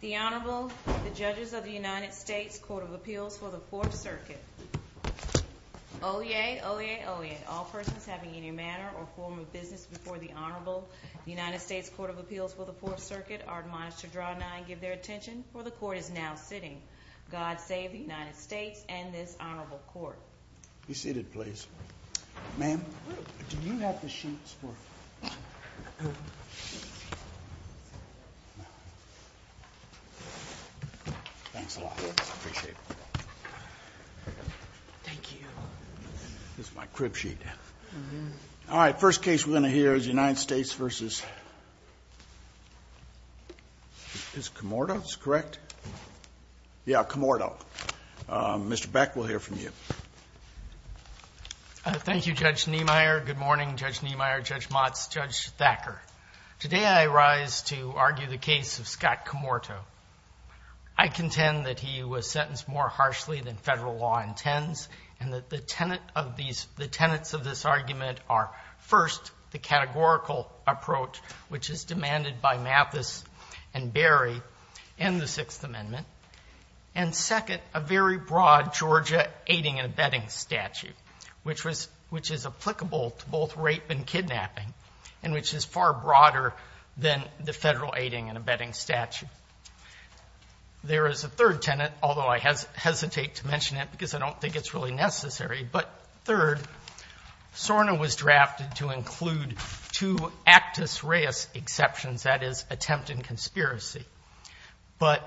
The Honorable, the Judges of the United States Court of Appeals for the Fourth Circuit. Oyez! Oyez! Oyez! All persons having any manner or form of business before the Honorable United States Court of Appeals for the Fourth Circuit are admonished to draw nigh and give their attention, for the Court is now sitting. God save the United States and this Honorable Court. Be seated, please. Ma'am, do you have the sheets for me? Thanks a lot. I appreciate it. Thank you. This is my crib sheet. All right, first case we're going to hear is United States v. Mr. Cammorto. Mr. Beck, we'll hear from you. Thank you, Judge Niemeyer. Good morning, Judge Niemeyer, Judge Motz, Judge Thacker. Today I rise to argue the case of Scott Cammorto. I contend that he was sentenced more harshly than federal law intends and that the tenets of this argument are, first, the categorical approach, which is demanded by Mathis and Berry and the Sixth Amendment, and, second, a very broad Georgia aiding and abetting statute, which is applicable to both rape and kidnapping and which is far broader than the federal aiding and abetting statute. There is a third tenet, although I hesitate to mention it because I don't think it's really necessary, but, third, SORNA was drafted to include two actus reus exceptions, that is, attempt and conspiracy. But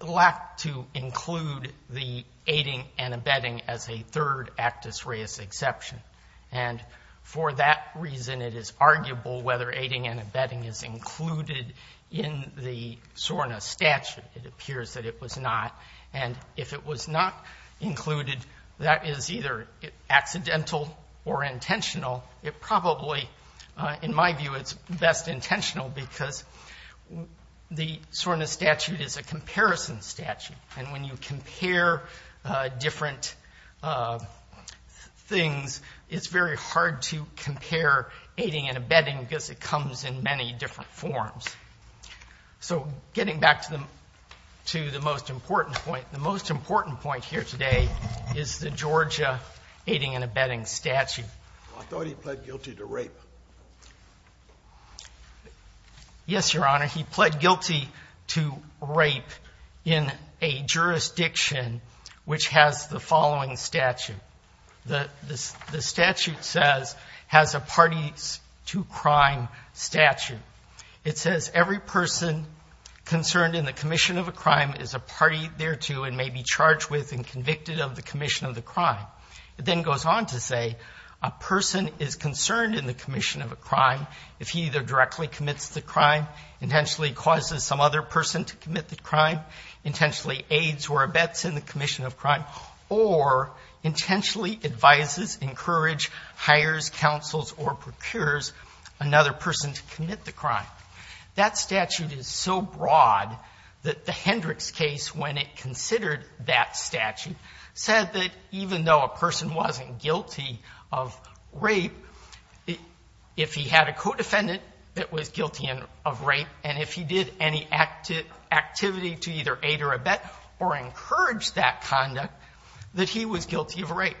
it lacked to include the aiding and abetting as a third actus reus exception. And for that reason, it is arguable whether aiding and abetting is included in the SORNA statute. It appears that it was not. And if it was not included, that is either accidental or intentional. It probably, in my view, it's best intentional because the SORNA statute is a comparison statute. And when you compare different things, it's very hard to compare aiding and abetting because it comes in many different forms. So getting back to the most important point, the most important point here today is the Georgia aiding and abetting statute. I thought he pled guilty to rape. Yes, Your Honor, he pled guilty to rape in a jurisdiction which has the following statute. The statute says, has a parties to crime statute. It says, every person concerned in the commission of a crime is a party thereto and may be charged with and convicted of the commission of the crime. It then goes on to say, a person is concerned in the commission of a crime if he either directly commits the crime, intentionally causes some other person to commit the crime, intentionally aids or abets in the commission of crime, or intentionally advises, encourages, hires, counsels, or procures another person to commit the crime. That statute is so broad that the Hendricks case, when it considered that statute, said that even though a person wasn't guilty of rape, if he had a co-defendant that was guilty of rape, and if he did any activity to either aid or abet or encourage that conduct, that he was guilty of rape.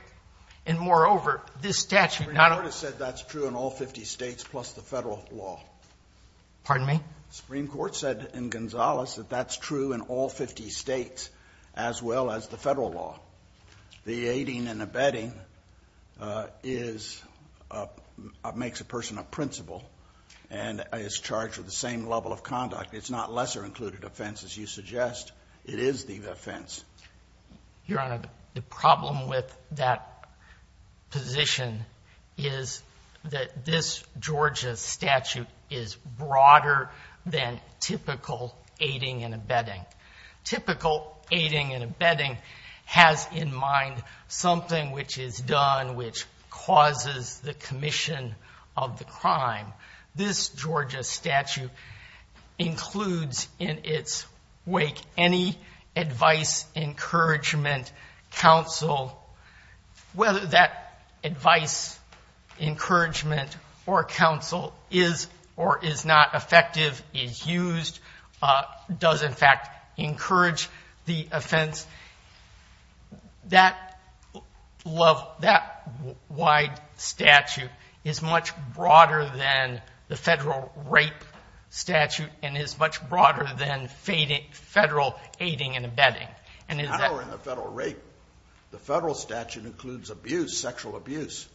And, moreover, this statute not only – The Supreme Court has said that's true in all 50 States plus the Federal law. Pardon me? The Supreme Court said in Gonzales that that's true in all 50 States as well as the Federal law. The aiding and abetting is – makes a person a principal and is charged with the same level of conduct. It's not lesser included offense, as you suggest. It is the offense. Your Honor, the problem with that position is that this Georgia statute is broader than typical aiding and abetting. Typical aiding and abetting has in mind something which is done which causes the commission of the crime. This Georgia statute includes in its wake any advice, encouragement, counsel. Whether that advice, encouragement, or counsel is or is not effective, is used, does, in fact, encourage the offense, that wide statute is much broader than the Federal rape statute and is much broader than Federal aiding and abetting. It's narrower than Federal rape. The Federal statute includes abuse, sexual abuse,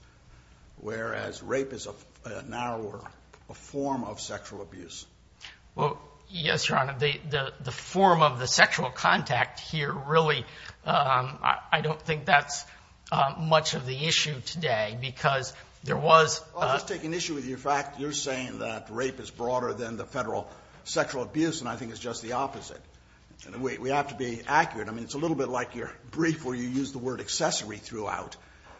whereas rape is a narrower form of sexual abuse. Well, yes, Your Honor. The form of the sexual contact here really – I don't think that's much of the issue today because there was – I'll just take an issue with your fact. You're saying that rape is broader than the Federal sexual abuse, and I think it's just the opposite. We have to be accurate. I mean, it's a little bit like your brief where you use the word accessory throughout,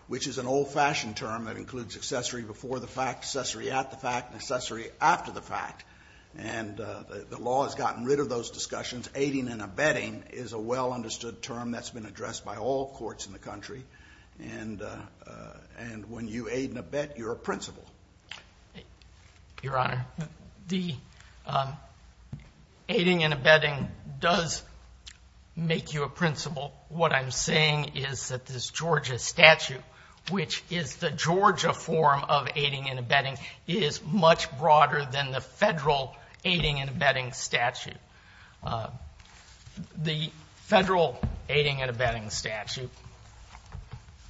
which is an old-fashioned term that includes accessory before the fact, accessory at the fact, and accessory after the fact. And the law has gotten rid of those discussions. Aiding and abetting is a well-understood term that's been addressed by all courts in the country. And when you aid and abet, you're a principal. Your Honor. The aiding and abetting does make you a principal. What I'm saying is that this Georgia statute, which is the Georgia form of aiding and abetting, is much broader than the Federal aiding and abetting statute. The Federal aiding and abetting statute,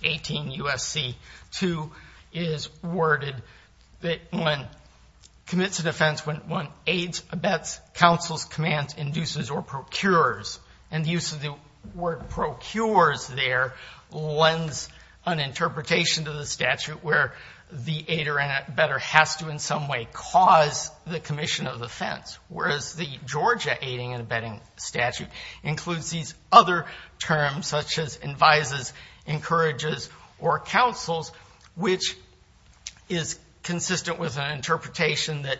18 U.S.C. 2, is worded that when – commits an offense when one aids, abets, counsels, commands, induces, or procures, and the use of the word procures there lends an interpretation to the statute where the aider and abetter has to in some way cause the commission of the offense. Whereas the Georgia aiding and abetting statute includes these other terms such as advises, encourages, or counsels, which is consistent with an interpretation that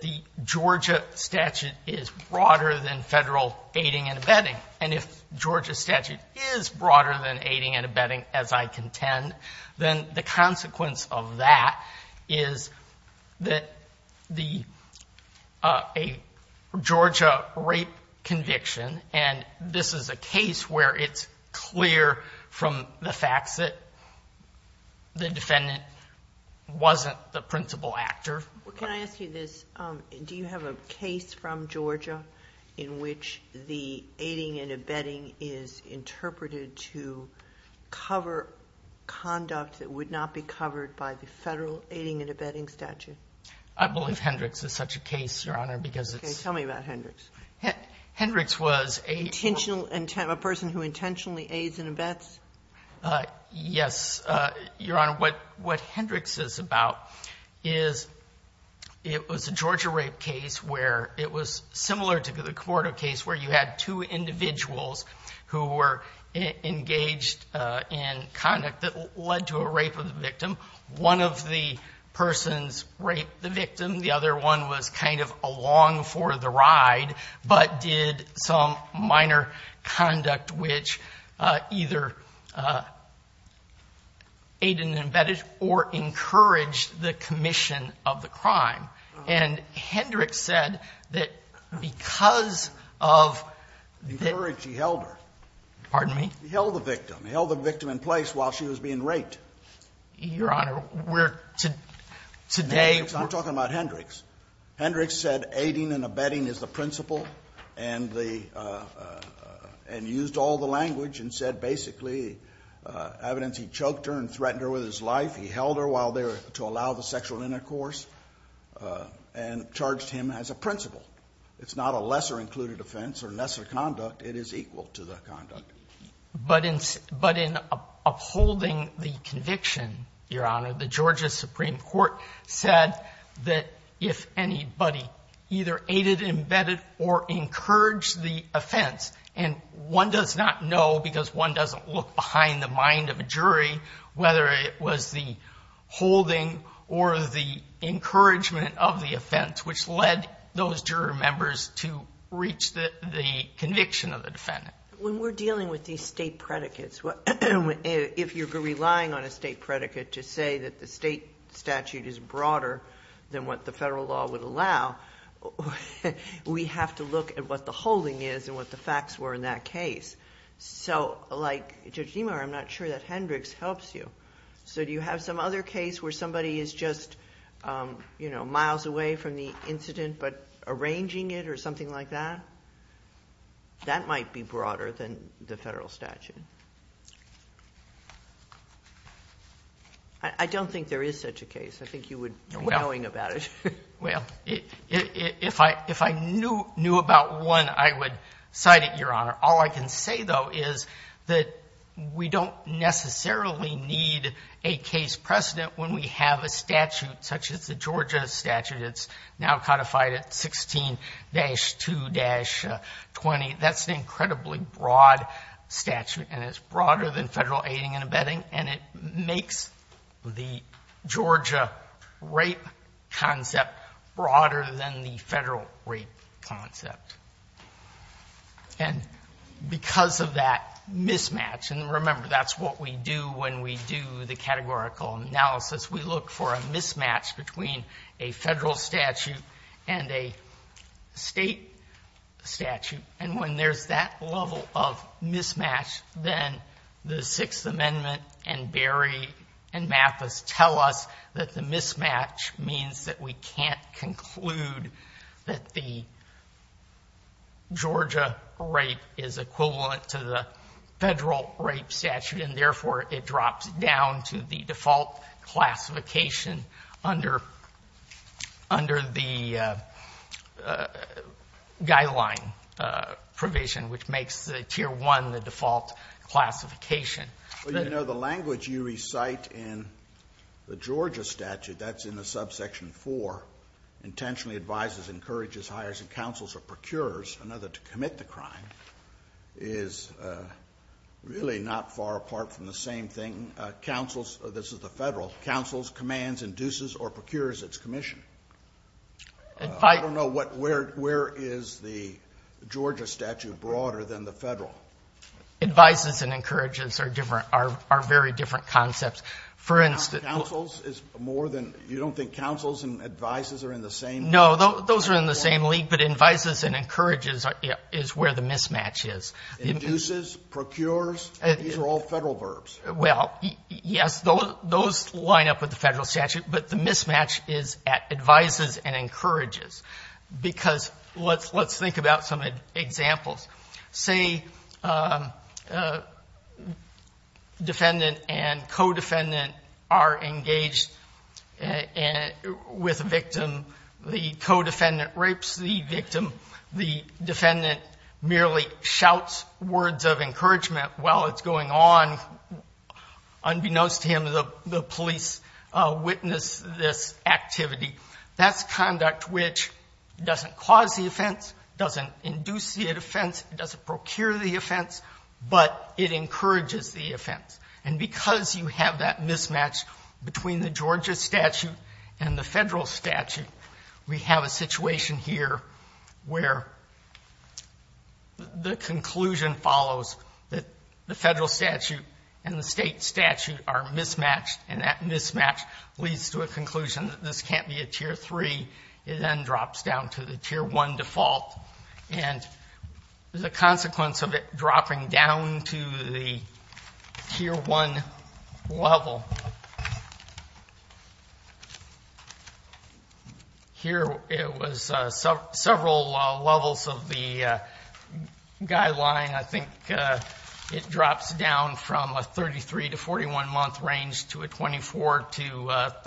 the Georgia statute is broader than Federal aiding and abetting. And if Georgia statute is broader than aiding and abetting, as I contend, then the consequence of that is that the – a Georgia rape conviction, and this is a case where it's clear from the facts that the defendant wasn't the principal actor. Can I ask you this? Do you have a case from Georgia in which the aiding and abetting is interpreted to cover conduct that would not be covered by the Federal aiding and abetting statute? I believe Hendricks is such a case, Your Honor, because it's – Okay. Tell me about Hendricks. Hendricks was a – Intentional – a person who intentionally aids and abets? Yes, Your Honor. What Hendricks is about is it was a Georgia rape case where it was similar to the conduct that led to a rape of the victim. One of the persons raped the victim. The other one was kind of along for the ride, but did some minor conduct which either aided and abetted or encouraged the commission of the crime. And Hendricks said that because of the – Encouraged. He held her. Pardon me? He held the victim. He held the victim in place while she was being raped. Your Honor, we're – today – We're talking about Hendricks. Hendricks said aiding and abetting is the principle and the – and used all the language and said basically evidence he choked her and threatened her with his life. He held her while they were – to allow the sexual intercourse and charged him as a principal. It's not a lesser included offense or lesser conduct. It is equal to the conduct. But in upholding the conviction, Your Honor, the Georgia Supreme Court said that if anybody either aided and abetted or encouraged the offense – and one does not know because one doesn't look behind the mind of a jury whether it was the holding or the encouragement of the offense which led those jury members to reach the conviction of the defendant. When we're dealing with these state predicates, if you're relying on a state predicate to say that the state statute is broader than what the federal law would allow, we have to look at what the holding is and what the facts were in that case. So like Judge DeMar, I'm not sure that Hendricks helps you. So do you have some other case where somebody is just, you know, miles away from the incident but arranging it or something like that? That might be broader than the federal statute. I don't think there is such a case. I think you would be knowing about it. Well, if I knew about one, I would cite it, Your Honor. All I can say, though, is that we don't necessarily need a case precedent when we have a statute such as the Georgia statute. It's now codified at 16-2-20. That's an incredibly broad statute and it's broader than federal aiding and abetting and it makes the Georgia rape concept broader than the federal rape concept. And because of that mismatch, and remember that's what we do when we do the categorical analysis, we look for a mismatch between a federal statute and a state statute. And when there's that level of mismatch, then the Sixth Amendment and Berry and Mathis tell us that the mismatch means that we can't conclude that the Georgia rape is equivalent to the federal rape statute and therefore it drops down to the default classification under the guideline provision, which makes the Tier 1 the default classification. Well, you know, the language you recite in the Georgia statute, that's in the subsection 4, intentionally advises, encourages, hires, and counsels or procures another to commit the crime, is really not far apart from the same thing counsels, this is the federal, counsels, commands, induces, or procures its commission. I don't know where is the Georgia statute broader than the federal. Advises and encourages are very different concepts. Counsels is more than, you don't think counsels and advises are in the same? No, those are in the same league, but advises and encourages is where the mismatch is. Induces, procures, these are all federal verbs. Well, yes, those line up with the federal statute, but the mismatch is at advises and encourages. Because let's think about some examples. Say defendant and co-defendant are engaged with a victim. The co-defendant rapes the victim. The defendant merely shouts words of encouragement while it's going on. Unbeknownst to him, the police witness this activity. That's conduct which doesn't cause the offense, doesn't induce the offense, doesn't procure the offense, but it encourages the offense. And because you have that mismatch between the Georgia statute and the federal statute, we have a situation here where the conclusion follows that the federal statute and the state statute are mismatched, and that mismatch leads to a conclusion that this can't be a Tier 3. It then drops down to the Tier 1 default. And the consequence of it dropping down to the Tier 1 level, here it was several levels of the guideline. And I think it drops down from a 33- to 41-month range to a 24- to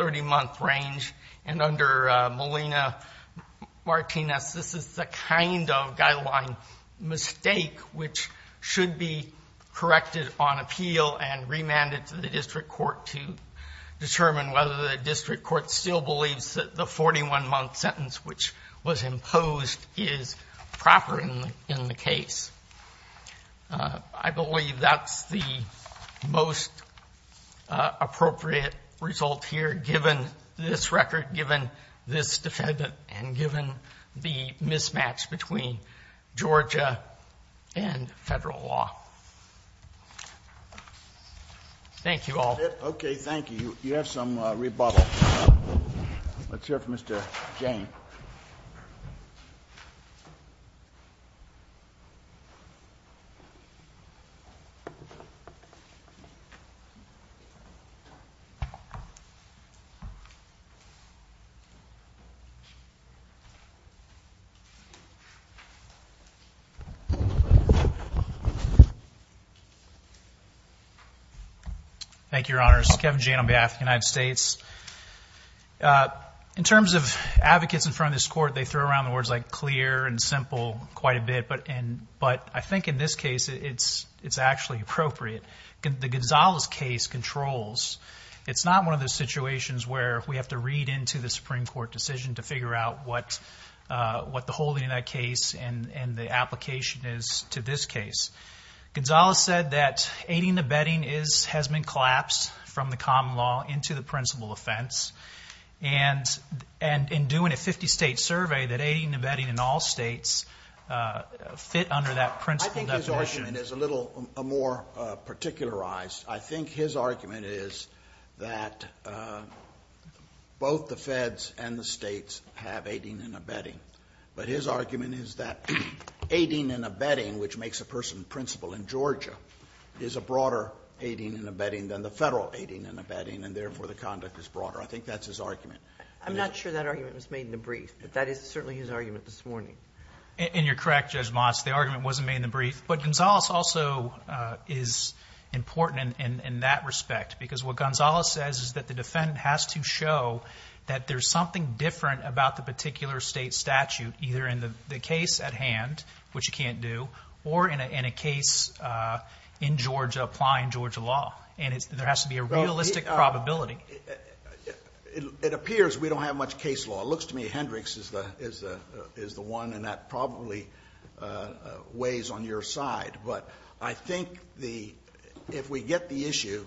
30-month range. And under Molina-Martinez, this is the kind of guideline mistake which should be corrected on appeal and remanded to the district court to determine whether the district court still believes that the 41-month sentence which was imposed is proper in the case. I believe that's the most appropriate result here, given this record, given this defendant, and given the mismatch between Georgia and federal law. Thank you all. That's it? Okay, thank you. You have some rebuttal. Let's hear from Mr. Jane. Thank you. Thank you, Your Honors. Kevin Jane on behalf of the United States. In terms of advocates in front of this court, they throw around words like clear and simple quite a bit. But I think in this case, it's actually appropriate. The Gonzalez case controls. It's not one of those situations where we have to read into the Supreme Court decision to figure out what the holding of that case and the application is to this case. Gonzalez said that aiding and abetting has been collapsed from the common law into the principal offense. And in doing a 50-state survey, that aiding and abetting in all states fit under that principal definition. I think his argument is a little more particularized. I think his argument is that both the feds and the states have aiding and abetting. But his argument is that aiding and abetting, which makes a person principal in Georgia, is a broader aiding and abetting than the federal aiding and abetting, and therefore the conduct is broader. I think that's his argument. I'm not sure that argument was made in the brief. But that is certainly his argument this morning. And you're correct, Judge Moss. The argument wasn't made in the brief. But Gonzalez also is important in that respect. Because what Gonzalez says is that the defendant has to show that there's something different about the particular state statute, either in the case at hand, which you can't do, or in a case in Georgia applying Georgia law. And there has to be a realistic probability. It appears we don't have much case law. It looks to me Hendricks is the one, and that probably weighs on your side. But I think if we get the issue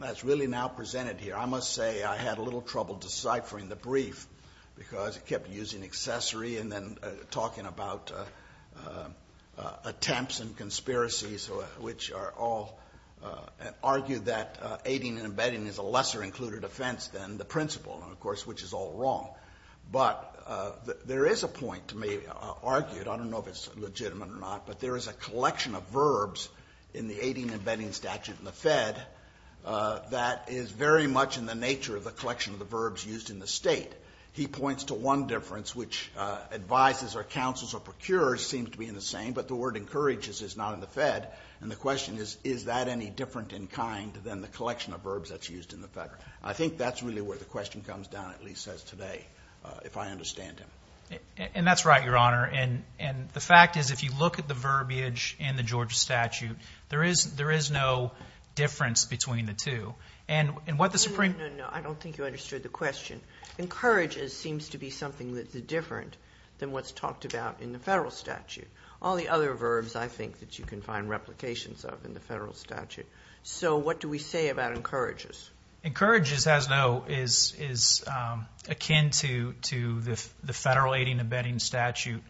that's really now presented here, I must say I had a little trouble deciphering the brief, because it kept using accessory and then talking about attempts and conspiracies, which are all argued that aiding and abetting is a lesser included offense than the principal, of course, which is all wrong. But there is a point to me argued, I don't know if it's legitimate or not, but there is a collection of verbs in the aiding and abetting statute in the Fed that is very much in the nature of the collection of the verbs used in the state. He points to one difference, which advises or counsels or procures seems to be in the same, but the word encourages is not in the Fed. And the question is, is that any different in kind than the collection of verbs that's used in the Fed? I think that's really where the question comes down, at least as today, if I understand him. And that's right, Your Honor. And the fact is, if you look at the verbiage in the Georgia statute, there is no difference between the two. And what the Supreme Court ---- No, no, no. I don't think you understood the question. Encourages seems to be something that's different than what's talked about in the Federal statute. All the other verbs, I think, that you can find replications of in the Federal statute. So what do we say about encourages? Encourages, as though, is akin to the Federal aiding and abetting statute.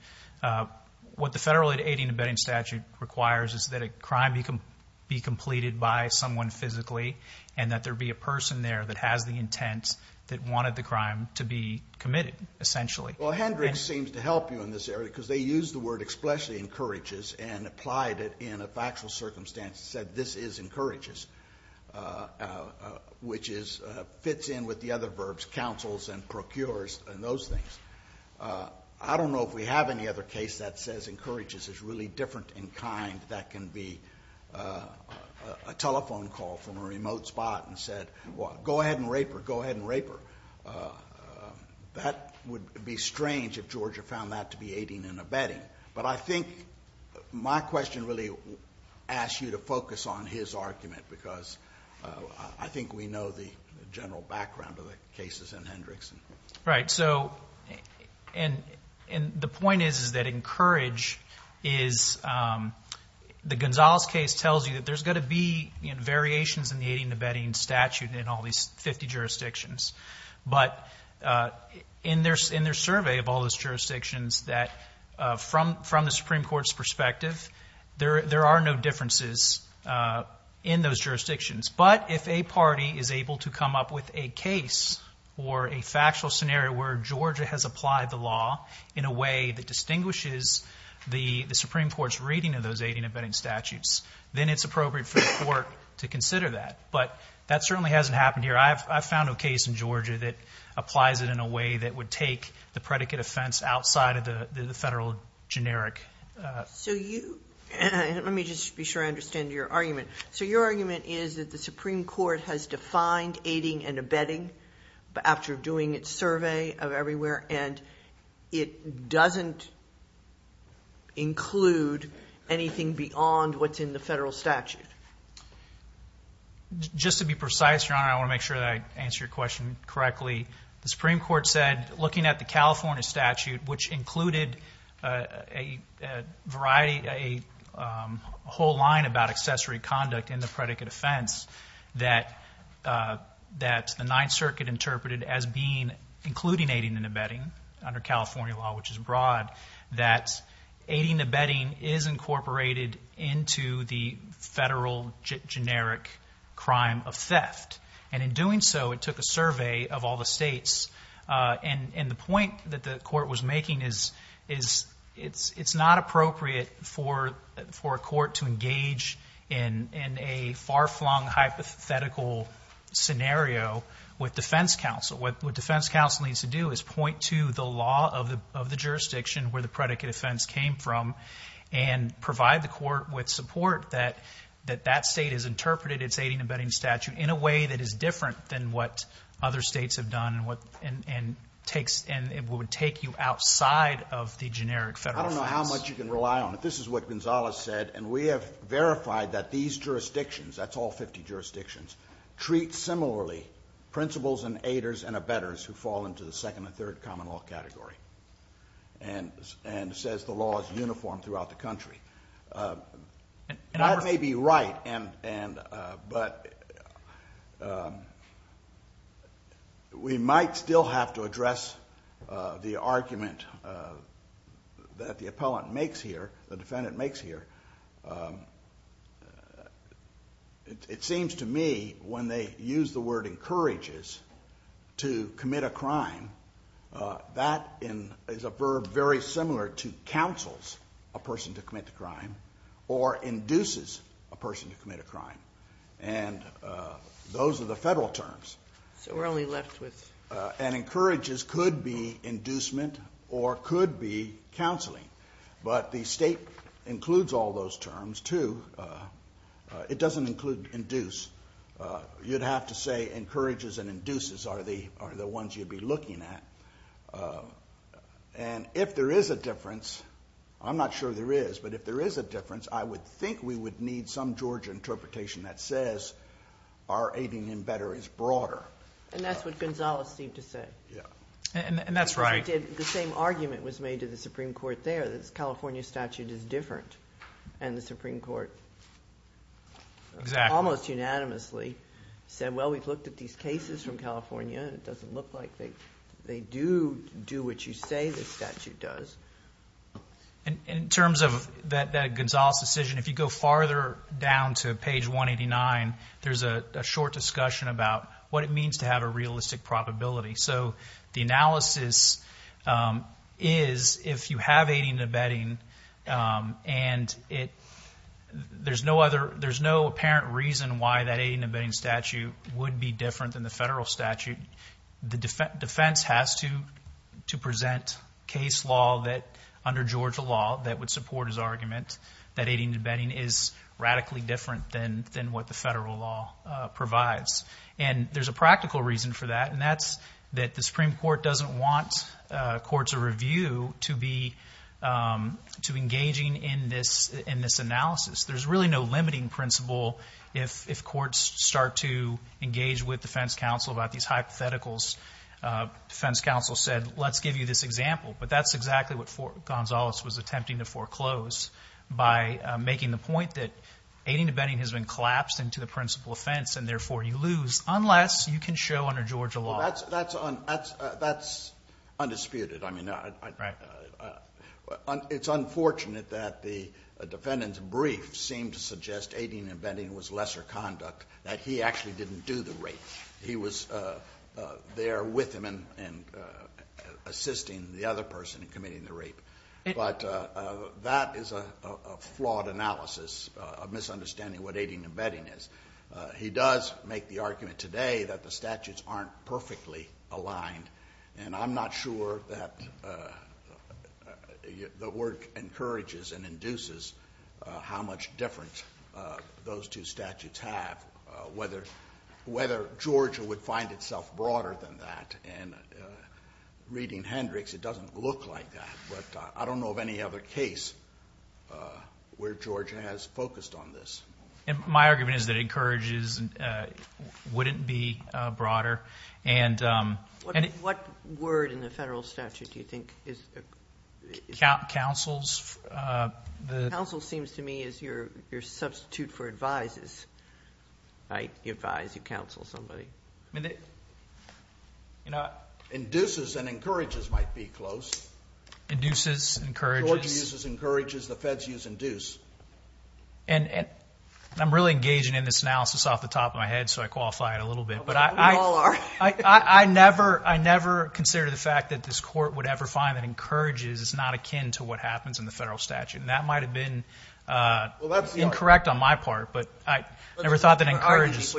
What the Federal aiding and abetting statute requires is that a crime be completed by someone physically and that there be a person there that has the intent that wanted the crime to be committed, essentially. Well, Hendricks seems to help you in this area because they used the word expressly encourages and applied it in a factual circumstance and said this is encourages, which fits in with the other verbs, counsels and procures and those things. I don't know if we have any other case that says encourages is really different in kind that can be a telephone call from a remote spot and said, go ahead and rape her, go ahead and rape her. That would be strange if Georgia found that to be aiding and abetting. But I think my question really asks you to focus on his argument because I think we know the general background of the cases in Hendricks. Right. So the point is that encourage is the Gonzales case tells you that there's going to be variations in the aiding and abetting statute in all these 50 jurisdictions. But in their survey of all those jurisdictions that from the Supreme Court's perspective, there are no differences in those jurisdictions. But if a party is able to come up with a case or a factual scenario where Georgia has applied the law in a way that distinguishes the Supreme Court's reading of those aiding and abetting statutes, then it's appropriate for the court to consider that. But that certainly hasn't happened here. I've found a case in Georgia that applies it in a way that would take the predicate offense outside of the federal generic. So you – let me just be sure I understand your argument. So your argument is that the Supreme Court has defined aiding and abetting after doing its survey of everywhere and it doesn't include anything beyond what's in the federal statute. Just to be precise, Your Honor, I want to make sure that I answer your question correctly. The Supreme Court said looking at the California statute, which included a variety – a whole line about accessory conduct in the predicate offense that the Ninth Circuit interpreted as being – including aiding and abetting under California law, which is broad, that aiding and abetting is incorporated into the federal generic crime of theft. And in doing so, it took a survey of all the states. And the point that the court was making is it's not appropriate for a court to engage in a far-flung hypothetical scenario with defense counsel. What defense counsel needs to do is point to the law of the jurisdiction where the predicate offense came from and provide the court with support that that state has interpreted its aiding and abetting statute in a way that is different than what other states have done and takes – and would take you outside of the generic federal offense. I don't know how much you can rely on it. This is what Gonzales said, and we have verified that these jurisdictions – that's all 50 jurisdictions – have a principals and aiders and abettors who fall into the second and third common law category and says the law is uniform throughout the country. And I may be right, but we might still have to address the argument that the appellant makes here, the defendant makes here. It seems to me when they use the word encourages to commit a crime, that is a verb very similar to counsels a person to commit a crime or induces a person to commit a crime. And those are the federal terms. So we're only left with – And encourages could be inducement or could be counseling. But the state includes all those terms, too. It doesn't include induce. You'd have to say encourages and induces are the ones you'd be looking at. And if there is a difference – I'm not sure there is – but if there is a difference, I would think we would need some Georgia interpretation that says our aiding and abetting is broader. And that's what Gonzales seemed to say. Yeah. And that's right. The same argument was made to the Supreme Court there, that the California statute is different. And the Supreme Court almost unanimously said, well, we've looked at these cases from California and it doesn't look like they do do what you say the statute does. In terms of that Gonzales decision, if you go farther down to page 189, there's a short discussion about what it means to have a realistic probability. So the analysis is if you have aiding and abetting and there's no apparent reason why that aiding and abetting statute would be different than the federal statute, the defense has to present case law under Georgia law that would support his argument that aiding and abetting is radically different than what the federal law provides. And there's a practical reason for that, and that's that the Supreme Court doesn't want courts of review to be engaging in this analysis. There's really no limiting principle if courts start to engage with defense counsel about these hypotheticals. Defense counsel said, let's give you this example. But that's exactly what Gonzales was attempting to foreclose by making the point that aiding and abetting has been collapsed into the principal offense and therefore you lose unless you can show under Georgia law. That's undisputed. It's unfortunate that the defendant's brief seemed to suggest aiding and abetting was lesser conduct, that he actually didn't do the rape. He was there with him and assisting the other person in committing the rape. But that is a flawed analysis, a misunderstanding of what aiding and abetting is. He does make the argument today that the statutes aren't perfectly aligned, and I'm not sure that the work encourages and induces how much difference those two statutes have, whether Georgia would find itself broader than that. Reading Hendricks, it doesn't look like that. But I don't know of any other case where Georgia has focused on this. My argument is that it encourages, wouldn't be broader. What word in the federal statute do you think is? Counsel's. Counsel seems to me as your substitute for advise. You advise, you counsel somebody. Induces and encourages might be close. Induces, encourages. Georgia uses encourages, the feds use induce. And I'm really engaging in this analysis off the top of my head, so I qualify it a little bit. We all are. I never considered the fact that this court would ever find that encourages is not akin to what happens in the federal statute. And that might have been incorrect on my part, but I never thought that encourages.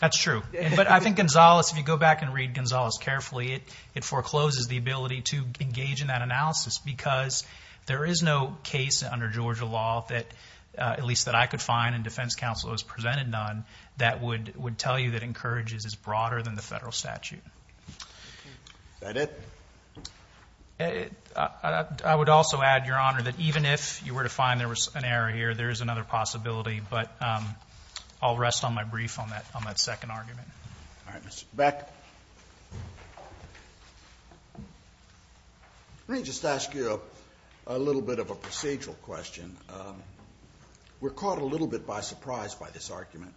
That's true. But I think Gonzales, if you go back and read Gonzales carefully, it forecloses the ability to engage in that analysis because there is no case under Georgia law, at least that I could find and defense counsel has presented none, that would tell you that encourages is broader than the federal statute. Is that it? I would also add, Your Honor, that even if you were to find there was an error here, there is another possibility. But I'll rest on my brief on that second argument. All right, Mr. Beck. Let me just ask you a little bit of a procedural question. We're caught a little bit by surprise by this argument.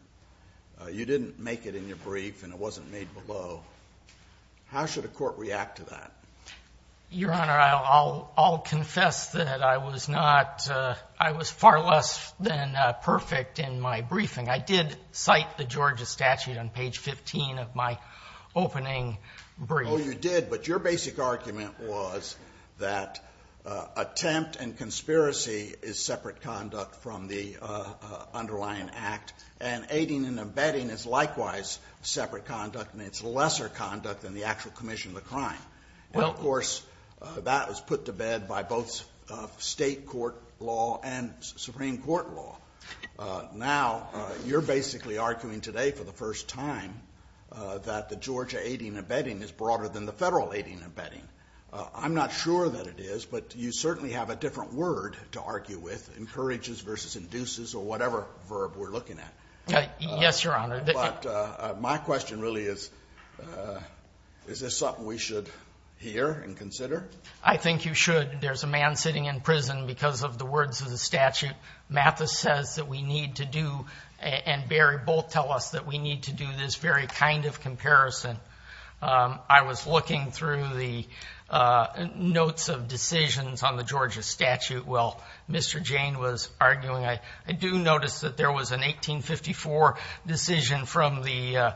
You didn't make it in your brief and it wasn't made below. How should a court react to that? Your Honor, I'll confess that I was not, I was far less than perfect in my briefing. I did cite the Georgia statute on page 15 of my opening brief. Oh, you did. But your basic argument was that attempt and conspiracy is separate conduct from the underlying act, and aiding and abetting is likewise separate conduct, and it's lesser conduct than the actual commission of the crime. Well, of course, that was put to bed by both State court law and Supreme Court law. Now, you're basically arguing today for the first time that the Georgia aiding and abetting is broader than the Federal aiding and abetting. I'm not sure that it is, but you certainly have a different word to argue with, encourages versus induces or whatever verb we're looking at. Yes, Your Honor. But my question really is, is this something we should hear and consider? I think you should. There's a man sitting in prison because of the words of the statute. Mathis says that we need to do, and Barry both tell us that we need to do, this very kind of comparison. I was looking through the notes of decisions on the Georgia statute. Well, Mr. Jane was arguing. I do notice that there was an 1854 decision from the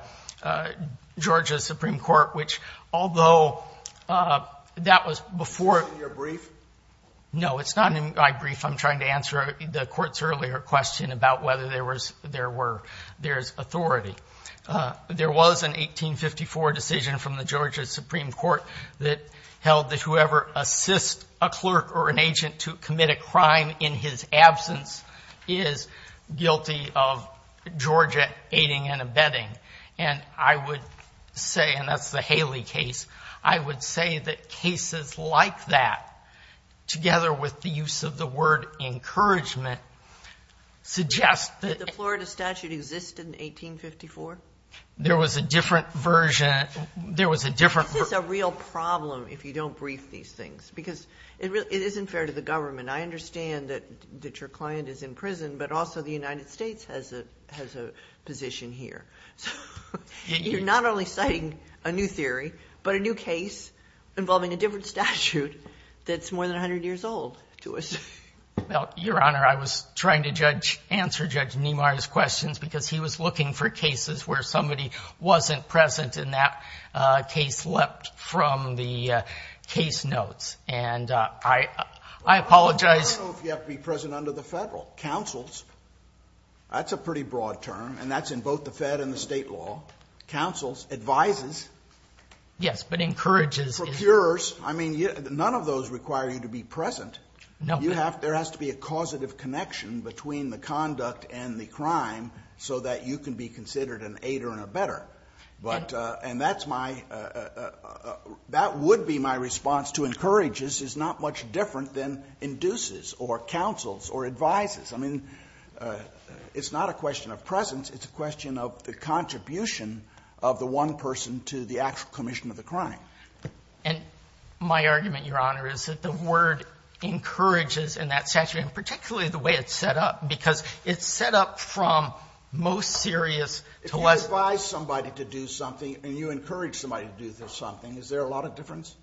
Georgia Supreme Court, which although that was before. Is it in your brief? No, it's not in my brief. I'm trying to answer the Court's earlier question about whether there was, there were, there's authority. There was an 1854 decision from the Georgia Supreme Court that held that whoever assists a clerk or an agent to commit a crime in his absence is guilty of Georgia aiding and abetting. And I would say, and that's the Haley case, I would say that cases like that, together with the use of the word encouragement, suggest that. Did the Florida statute exist in 1854? There was a different version. There was a different. This is a real problem if you don't brief these things, because it isn't fair to the government. I understand that your client is in prison, but also the United States has a position here. You're not only citing a new theory, but a new case involving a different statute that's more than 100 years old to us. Well, Your Honor, I was trying to judge, answer Judge Nemar's questions, because he was looking for cases where somebody wasn't present, and that case leapt from the case notes. And I apologize. I don't know if you have to be present under the Federal. Counsel's, that's a pretty broad term, and that's in both the Fed and the state law. Counsel's advises. Yes, but encourages. Procureors. I mean, none of those require you to be present. No. There has to be a causative connection between the conduct and the crime so that you can be considered an aider and a better. And that's my – that would be my response to encourages is not much different than induces or counsels or advises. I mean, it's not a question of presence. It's a question of the contribution of the one person to the actual commission of the crime. And my argument, Your Honor, is that the word encourages in that statute, and particularly the way it's set up, because it's set up from most serious to less. If you advise somebody to do something and you encourage somebody to do something, is there a lot of difference?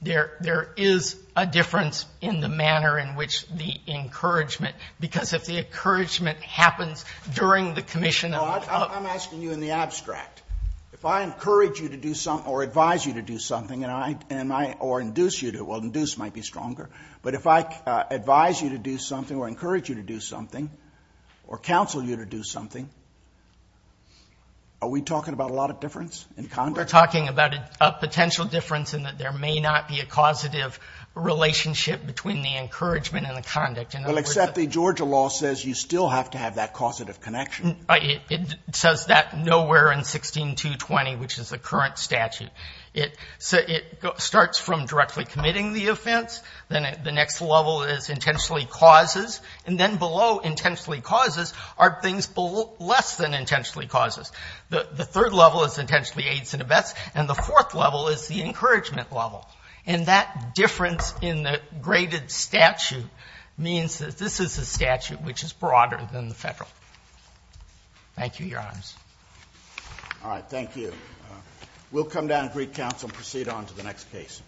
There is a difference in the manner in which the encouragement, because if the encouragement happens during the commission of... If I encourage you to do something or advise you to do something or induce you to, well, induce might be stronger. But if I advise you to do something or encourage you to do something or counsel you to do something, are we talking about a lot of difference in conduct? We're talking about a potential difference in that there may not be a causative relationship between the encouragement and the conduct. Well, except the Georgia law says you still have to have that causative connection. It says that nowhere in 16.220, which is the current statute. It starts from directly committing the offense. Then the next level is intentionally causes. And then below intentionally causes are things less than intentionally causes. The third level is intentionally aids and abets. And the fourth level is the encouragement level. And that difference in the graded statute means that this is a statute which is broader than the Federal. Thank you, Your Honors. All right. Thank you. We'll come down and greet counsel and proceed on to the next case.